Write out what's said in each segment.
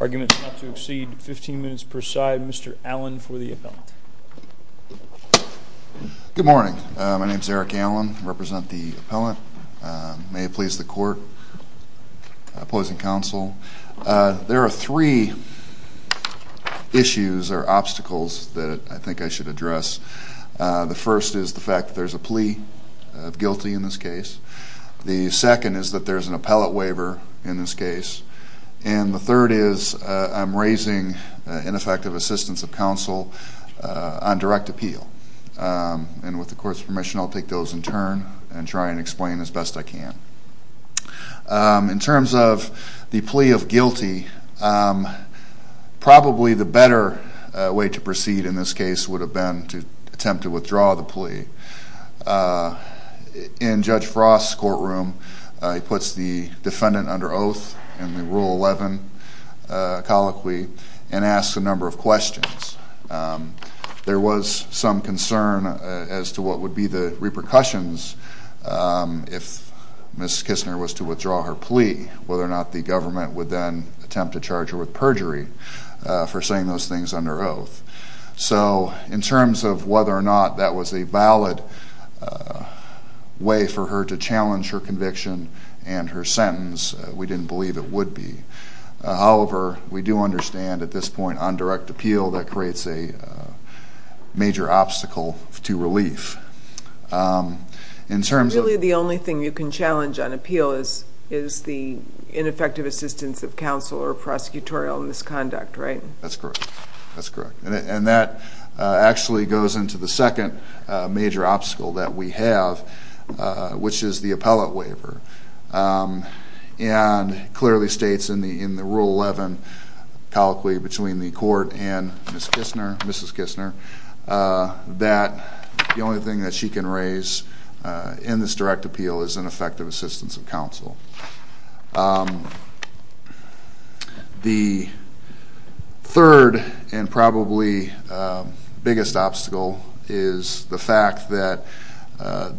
Arguments not to exceed 15 minutes per side. Mr. Allen for the appellant. Good morning. My name is Eric Allen. I represent the appellant. May it please the court. Opposing counsel. There are three The first issue is the The first is the fact that there's a plea of guilty in this case. The second is that there's an appellate waiver in this case. And the third is I'm raising ineffective assistance of counsel on direct appeal. And with the court's permission, I'll take those in turn and try and explain as best I can. In terms of the plea of guilty, probably the better explanation the better way to proceed in this case would have been to attempt to withdraw the plea. In Judge Frost's courtroom he puts the defendant under oath and the Rule 11 colloquy and asks a number of questions. There was some concern as to what would be the repercussions if Ms. Kistner was to withdraw her plea. Whether or not the government would then attempt to charge her with perjury for saying those things under oath. In terms of whether or not that was a valid way for her to challenge her conviction and her sentence, we didn't believe it would be. However, we do understand at this point on direct appeal that creates a major obstacle to relief. The only thing you can challenge on appeal is the ineffective assistance of counsel or prosecutorial misconduct, right? That's correct. And that actually goes into the second major obstacle that we have, which is the appellate waiver. And it clearly states in the Rule 11 colloquy between the court and Ms. Kistner that the only thing that she can raise in this direct appeal is ineffective assistance of counsel. The third and probably biggest obstacle is the fact that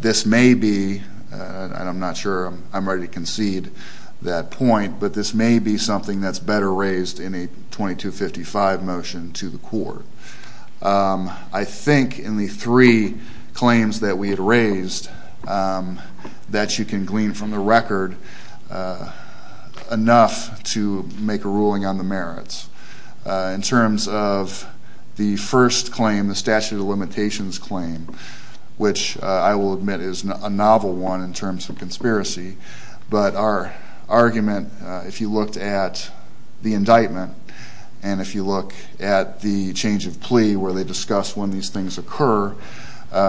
this may be, and I'm not sure I'm ready to concede that point, but this may be something that's better raised in a 2255 motion to the court. I think in the three claims that we had raised that you can glean from the record enough to make a ruling on the merits. In terms of the first claim, the statute of limitations claim, which I will admit is a novel one in terms of conspiracy, but our argument if you looked at the indictment and if you look at the change of plea where they discuss when these things occur,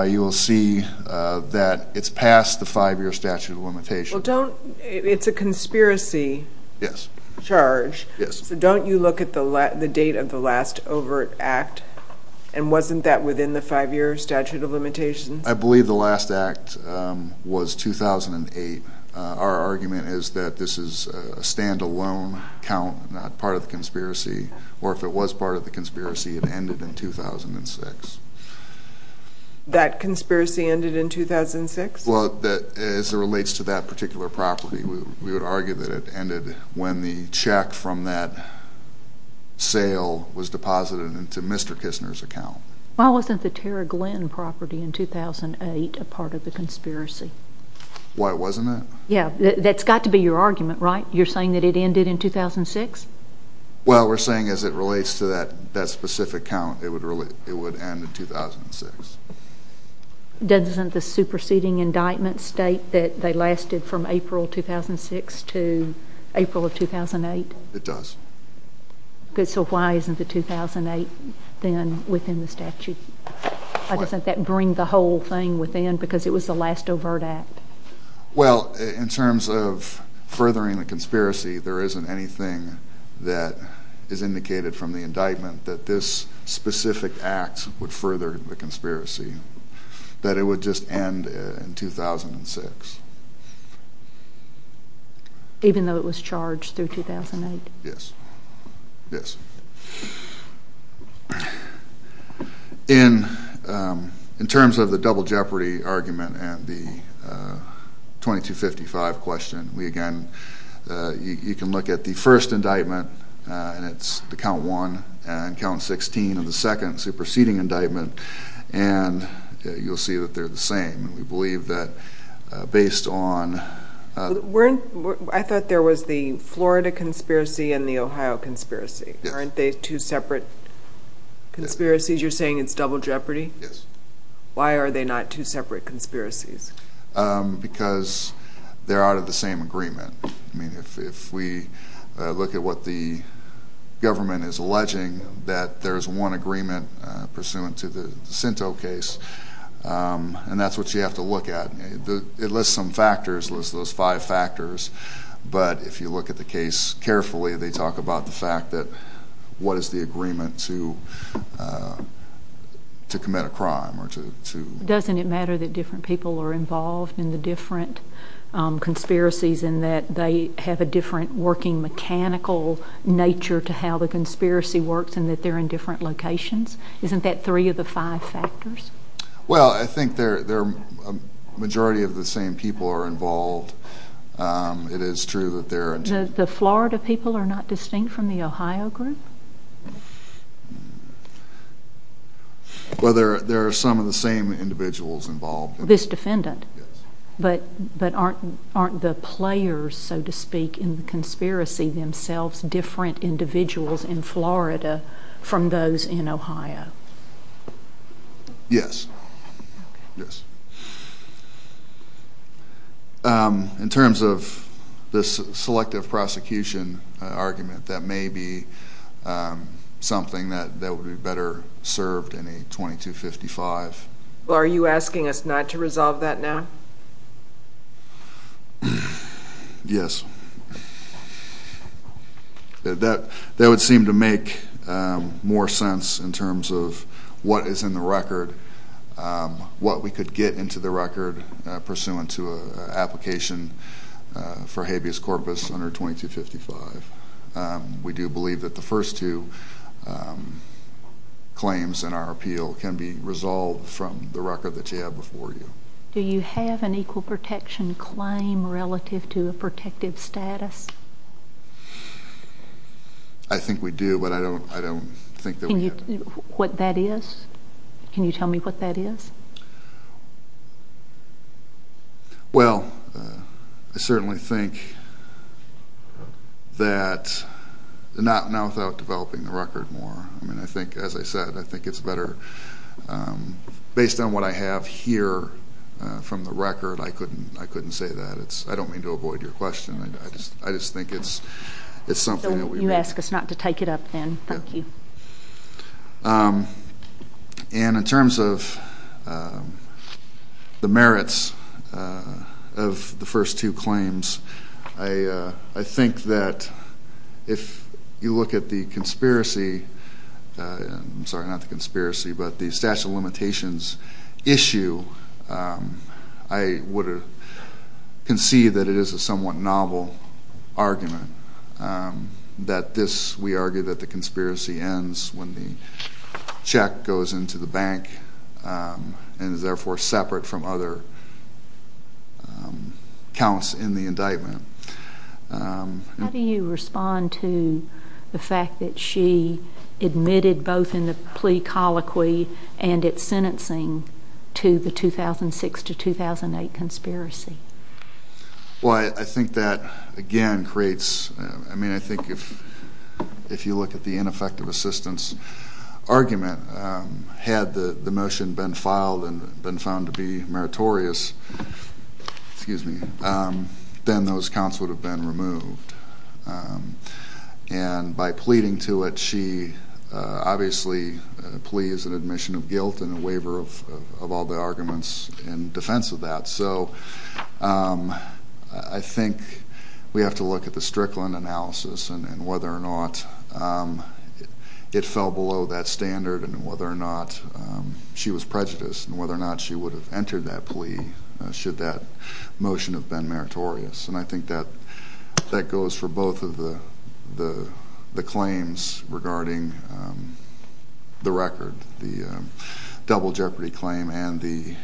you will see that it's past the five-year statute of limitations. It's a conspiracy charge, so don't you look at the date of the last overt act, and wasn't that within the five-year statute of limitations? I believe the last act was 2008. Our argument is that this is a stand-alone count, not part of the conspiracy, or if it was part of the conspiracy, it ended in 2006. That conspiracy ended in 2006? As it relates to that particular property, we would argue that it ended when the check from that sale was deposited into Mr. Kisner's account. Why wasn't the Tara Glenn property in 2008 a part of the conspiracy? Why wasn't it? That's got to be your argument, right? You're saying that it ended in 2006? Well, we're saying as it relates to that specific count, it would end in 2006. Doesn't the superseding indictment state that they lasted from April 2006 to April of 2008? It does. So why isn't it 2008, then, within the statute? Why doesn't that bring the whole thing within, because it was the last overt act? Well, in terms of furthering the conspiracy, there isn't anything that is indicated from the indictment that this specific act would further the conspiracy. That it would just end in 2006. Even though it was charged through 2008? Yes. In terms of the double jeopardy argument and the 2255 question, we again, you can look at the first indictment and it's the count 1 and count 16 of the second superseding indictment, and you'll see that they're the same. We believe that based on... I thought there was the Florida conspiracy and the Ohio conspiracy. Aren't they two separate conspiracies? You're saying it's double jeopardy? Yes. Why are they not two separate conspiracies? Because they're out of the same agreement. I mean, if we look at what the government is alleging, that there's one agreement pursuant to the Cento case, and that's what you have to look at. It lists some factors, lists those five factors, but if you look at the case carefully, they talk about the fact that what is the agreement to commit a crime? Doesn't it matter that different people are involved in the different conspiracies and that they have a different working mechanical nature to how the conspiracy works and that they're in different locations? Isn't that three of the five factors? Well, I think a majority of the same people are involved. It is true that they're... The Florida people are not distinct from the Ohio group? Well, there are some of the same individuals involved. This defendant? Yes. But aren't the players, so to speak, in the conspiracy themselves different individuals in Florida from those in Ohio? Yes. In terms of this selective prosecution argument, that may be something that would be better served in a 2255. Well, are you asking us not to resolve that now? Yes. That would seem to make more sense in terms of what is in the record, what we could get into the record pursuant to an application for habeas corpus under 2255. We do believe that the first two claims in our appeal can be resolved from the record that you have before you. Do you have an equal protection claim relative to a protective status? I think we do, but I don't think that we have... What that is? Can you tell me what that is? Well, I certainly think that... Not without developing the record more. I think, as I said, I think it's better... Based on what I have here from the record, I couldn't say that. I don't mean to avoid your question. I just think it's something that we... So you ask us not to take it up then. Thank you. And in terms of the merits of the first two claims, I think that if you look at the conspiracy... I'm sorry, not the conspiracy, but the statute of limitations issue, I would concede that it is a somewhat novel argument that this... We argue that the conspiracy ends when the check goes into the bank and is therefore separate from other counts in the indictment. How do you respond to the fact that she admitted both in the plea colloquy and its sentencing to the 2006-2008 conspiracy? Well, I think that again creates... I mean, I think if you look at the ineffective assistance argument, had the motion been filed and been found to be meritorious, then those counts would have been removed. And by pleading to it, she obviously... A plea is an admission of guilt and a waiver of all the arguments in defense of that. So I think we have to look at the Strickland analysis and whether or not it fell below that standard and whether or not she was prejudiced and whether or not she would have entered that plea should that motion have been meritorious. And I think that goes for both of the claims regarding the record, the double jeopardy claim and the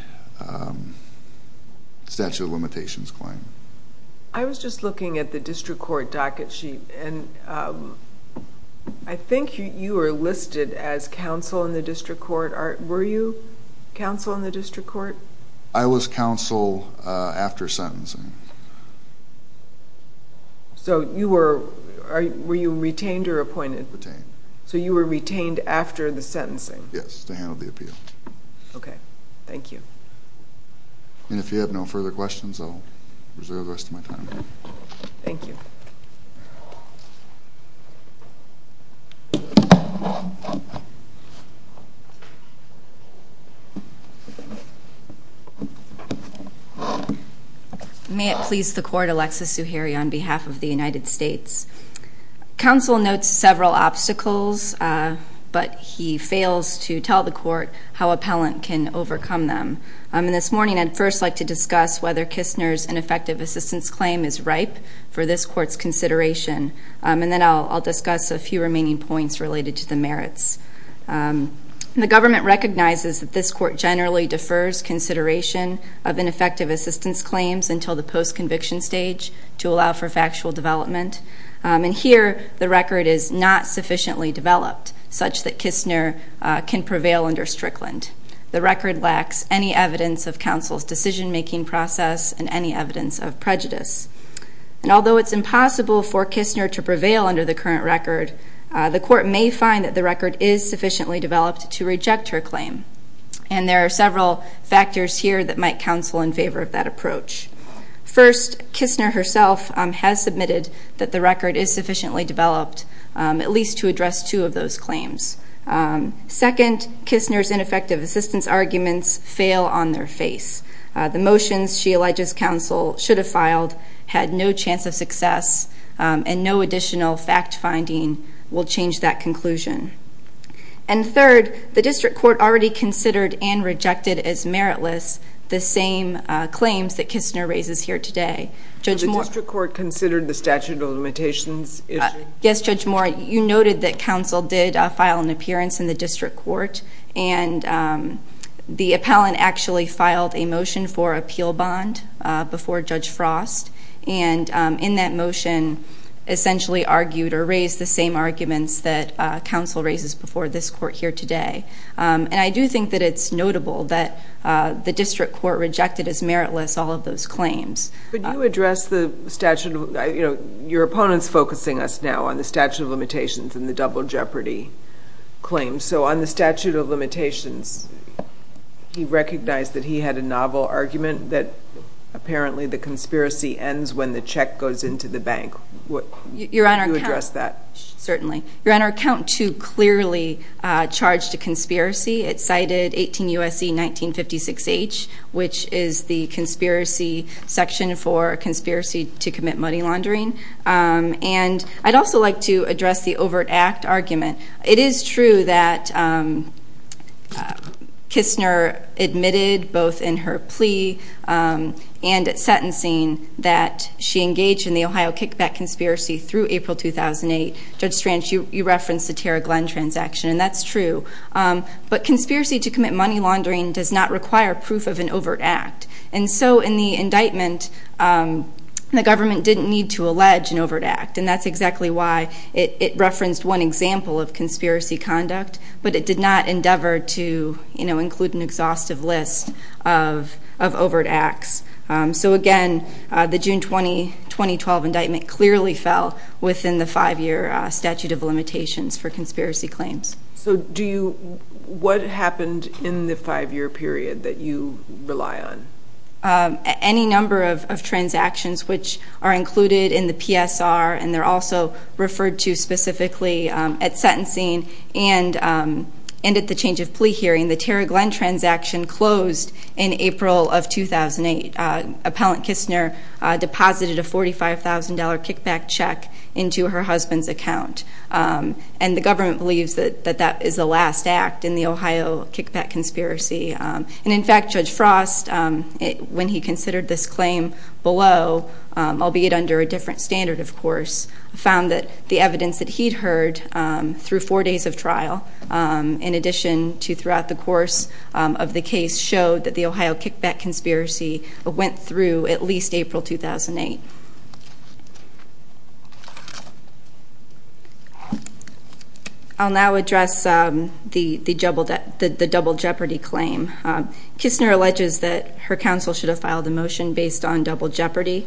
statute of limitations claim. I was just looking at the district court docket sheet and I think you were listed as counsel in the district court. Were you counsel in the district court? I was counsel after sentencing. So you were... Were you retained or appointed? Retained. So you were retained after the sentencing? Yes, to handle the appeal. Okay. Thank you. And if you have no further questions, I'll reserve the rest of my time. Thank you. May it please the court, Alexis Zuhairi on behalf of the United States. Counsel notes several obstacles, but he fails to tell the court how appellant can overcome them. And this morning I'd first like to discuss whether Kistner's ineffective assistance claim is ripe for this court's consideration. And then I'll discuss a few remaining points related to the merits. The government recognizes that this court generally defers consideration of ineffective assistance claims until the post-conviction stage to allow for factual development. And here the record is not sufficiently developed such that Kistner can prevail under Strickland. The record lacks any evidence of counsel's decision-making process and any evidence of prejudice. And although it's impossible for Kistner to prevail under the current record, the court may find that the record is sufficiently developed to reject her claim. And there are several factors here that might counsel in favor of that approach. First, Kistner herself has submitted that the record is sufficiently developed, at least to address two of those claims. Second, Kistner's ineffective assistance arguments fail on their face. The motions she alleges counsel should have filed had no chance of success and no additional fact-finding will change that conclusion. And third, the district court already considered and rejected as meritless the same claims that Kistner raises here today. Judge Moore... The district court considered the statute of limitations issue? Yes, Judge Moore. You noted that counsel did file an appearance in the district court and the appellant actually filed a motion for appeal bond before Judge Frost and in that motion essentially argued or raised the same arguments that counsel raises before this court here today. And I do think that it's notable that the district court rejected as meritless all of those claims. Could you address the statute of... Your opponent's focusing us now on the statute of limitations and the double jeopardy claim. So on the statute of limitations he recognized that he had a novel argument that apparently the conspiracy ends when the check goes into the bank. Could you address that? Certainly. Your Honor, count two clearly charged a conspiracy. It cited 18 U.S.C. 1956 H. which is the conspiracy section for conspiracy to commit money laundering. And I'd also like to address the overt act argument. It is true that Kistner admitted both in her and at sentencing that she engaged in the Ohio kickback conspiracy through April 2008. Judge Stranch, you referenced the Tara Glenn transaction and that's true. But conspiracy to commit money laundering does not require proof of an overt act. And so in the indictment the government didn't need to allege an overt act and that's exactly why it referenced one example of conspiracy conduct but it did not endeavor to include an exhaustive list of So again, the June 20, 2012 indictment clearly fell within the five year statute of limitations for conspiracy claims. So do you, what happened in the five year period that you rely on? Any number of transactions which are included in the PSR and they're also referred to specifically at sentencing and at the change of plea hearing. The Tara Glenn transaction closed in April of 2008. Appellant Kistner deposited a $45,000 kickback check into her husband's account and the government believes that that is the last act in the Ohio kickback conspiracy. And in fact, Judge Frost, when he considered this claim below, albeit under a different standard of course, found that the evidence that he'd heard through four days of trial, in addition to throughout the course of the case, showed that the Ohio kickback conspiracy went through at least April 2008. I'll now address the double jeopardy claim. Kistner alleges that her counsel should have filed a motion based on double jeopardy.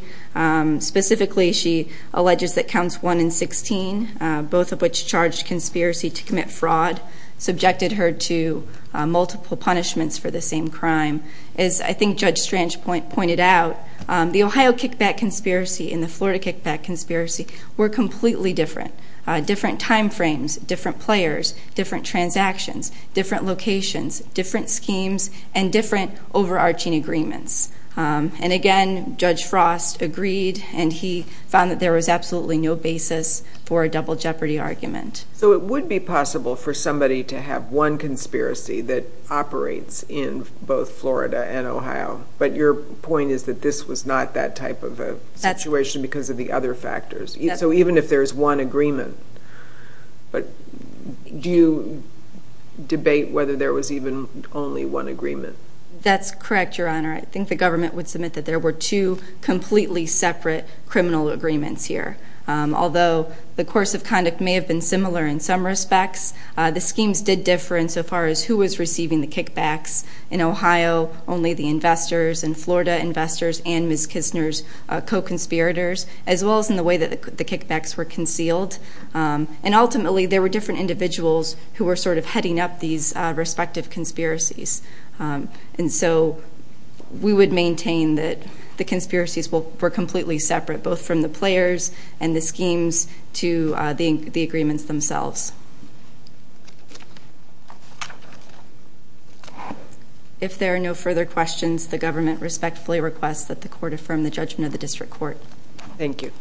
Specifically, she alleges that counts 1 and 16, both of which charged conspiracy to commit fraud, subjected her to multiple punishments for the same crime. As I think Judge Strange pointed out, the Ohio kickback conspiracy and the Florida kickback conspiracy were completely different. Different time frames, different players, different transactions, different locations, different schemes, and different overarching agreements. And again, Judge Frost agreed and he found that there was absolutely no basis for a double jeopardy argument. So it would be possible for somebody to have one conspiracy that operates in both Florida and Ohio, but your point is that this was not that type of a situation because of the other factors. So even if there's one agreement, but do you debate whether there was even only one agreement? That's correct, Your Honor. I think the government would submit that there were two completely separate criminal agreements here. Although the course of conduct may have been similar in some respects, the schemes did differ in so far as who was receiving the kickbacks. In Ohio, only the investors. In Florida, investors and Ms. Kisner's co-conspirators. As well as in the way that the kickbacks were concealed. And ultimately there were different individuals who were sort of heading up these respective conspiracies. And so we would maintain that the conspiracies were completely separate, both from the players and the schemes to the agreements themselves. If there are no further questions, the government respectfully requests that the Court affirm the judgment of the District Court. Thank you.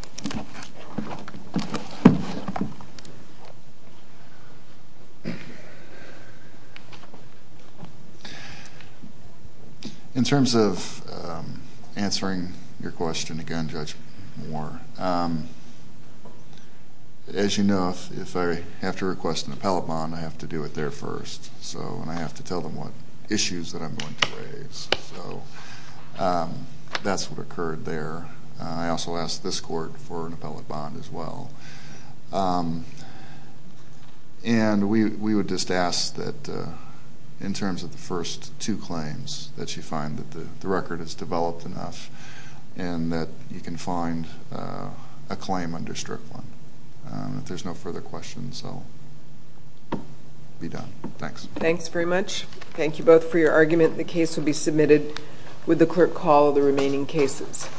In terms of answering your question again, Judge Moore, as you know, if I have to request an appellate bond, I have to do it there first. And I have to tell them what issues that I'm going to raise. That's what occurred there. I also asked this Court for an appellate bond as well. And we would just ask that in terms of the first two claims, that you find that the record is developed enough and that you can find a claim under Strickland. If there's no further questions, I'll be done. Thanks. Thanks very much. Thank you both for your argument. The case will be submitted with the clerk call of the remaining cases.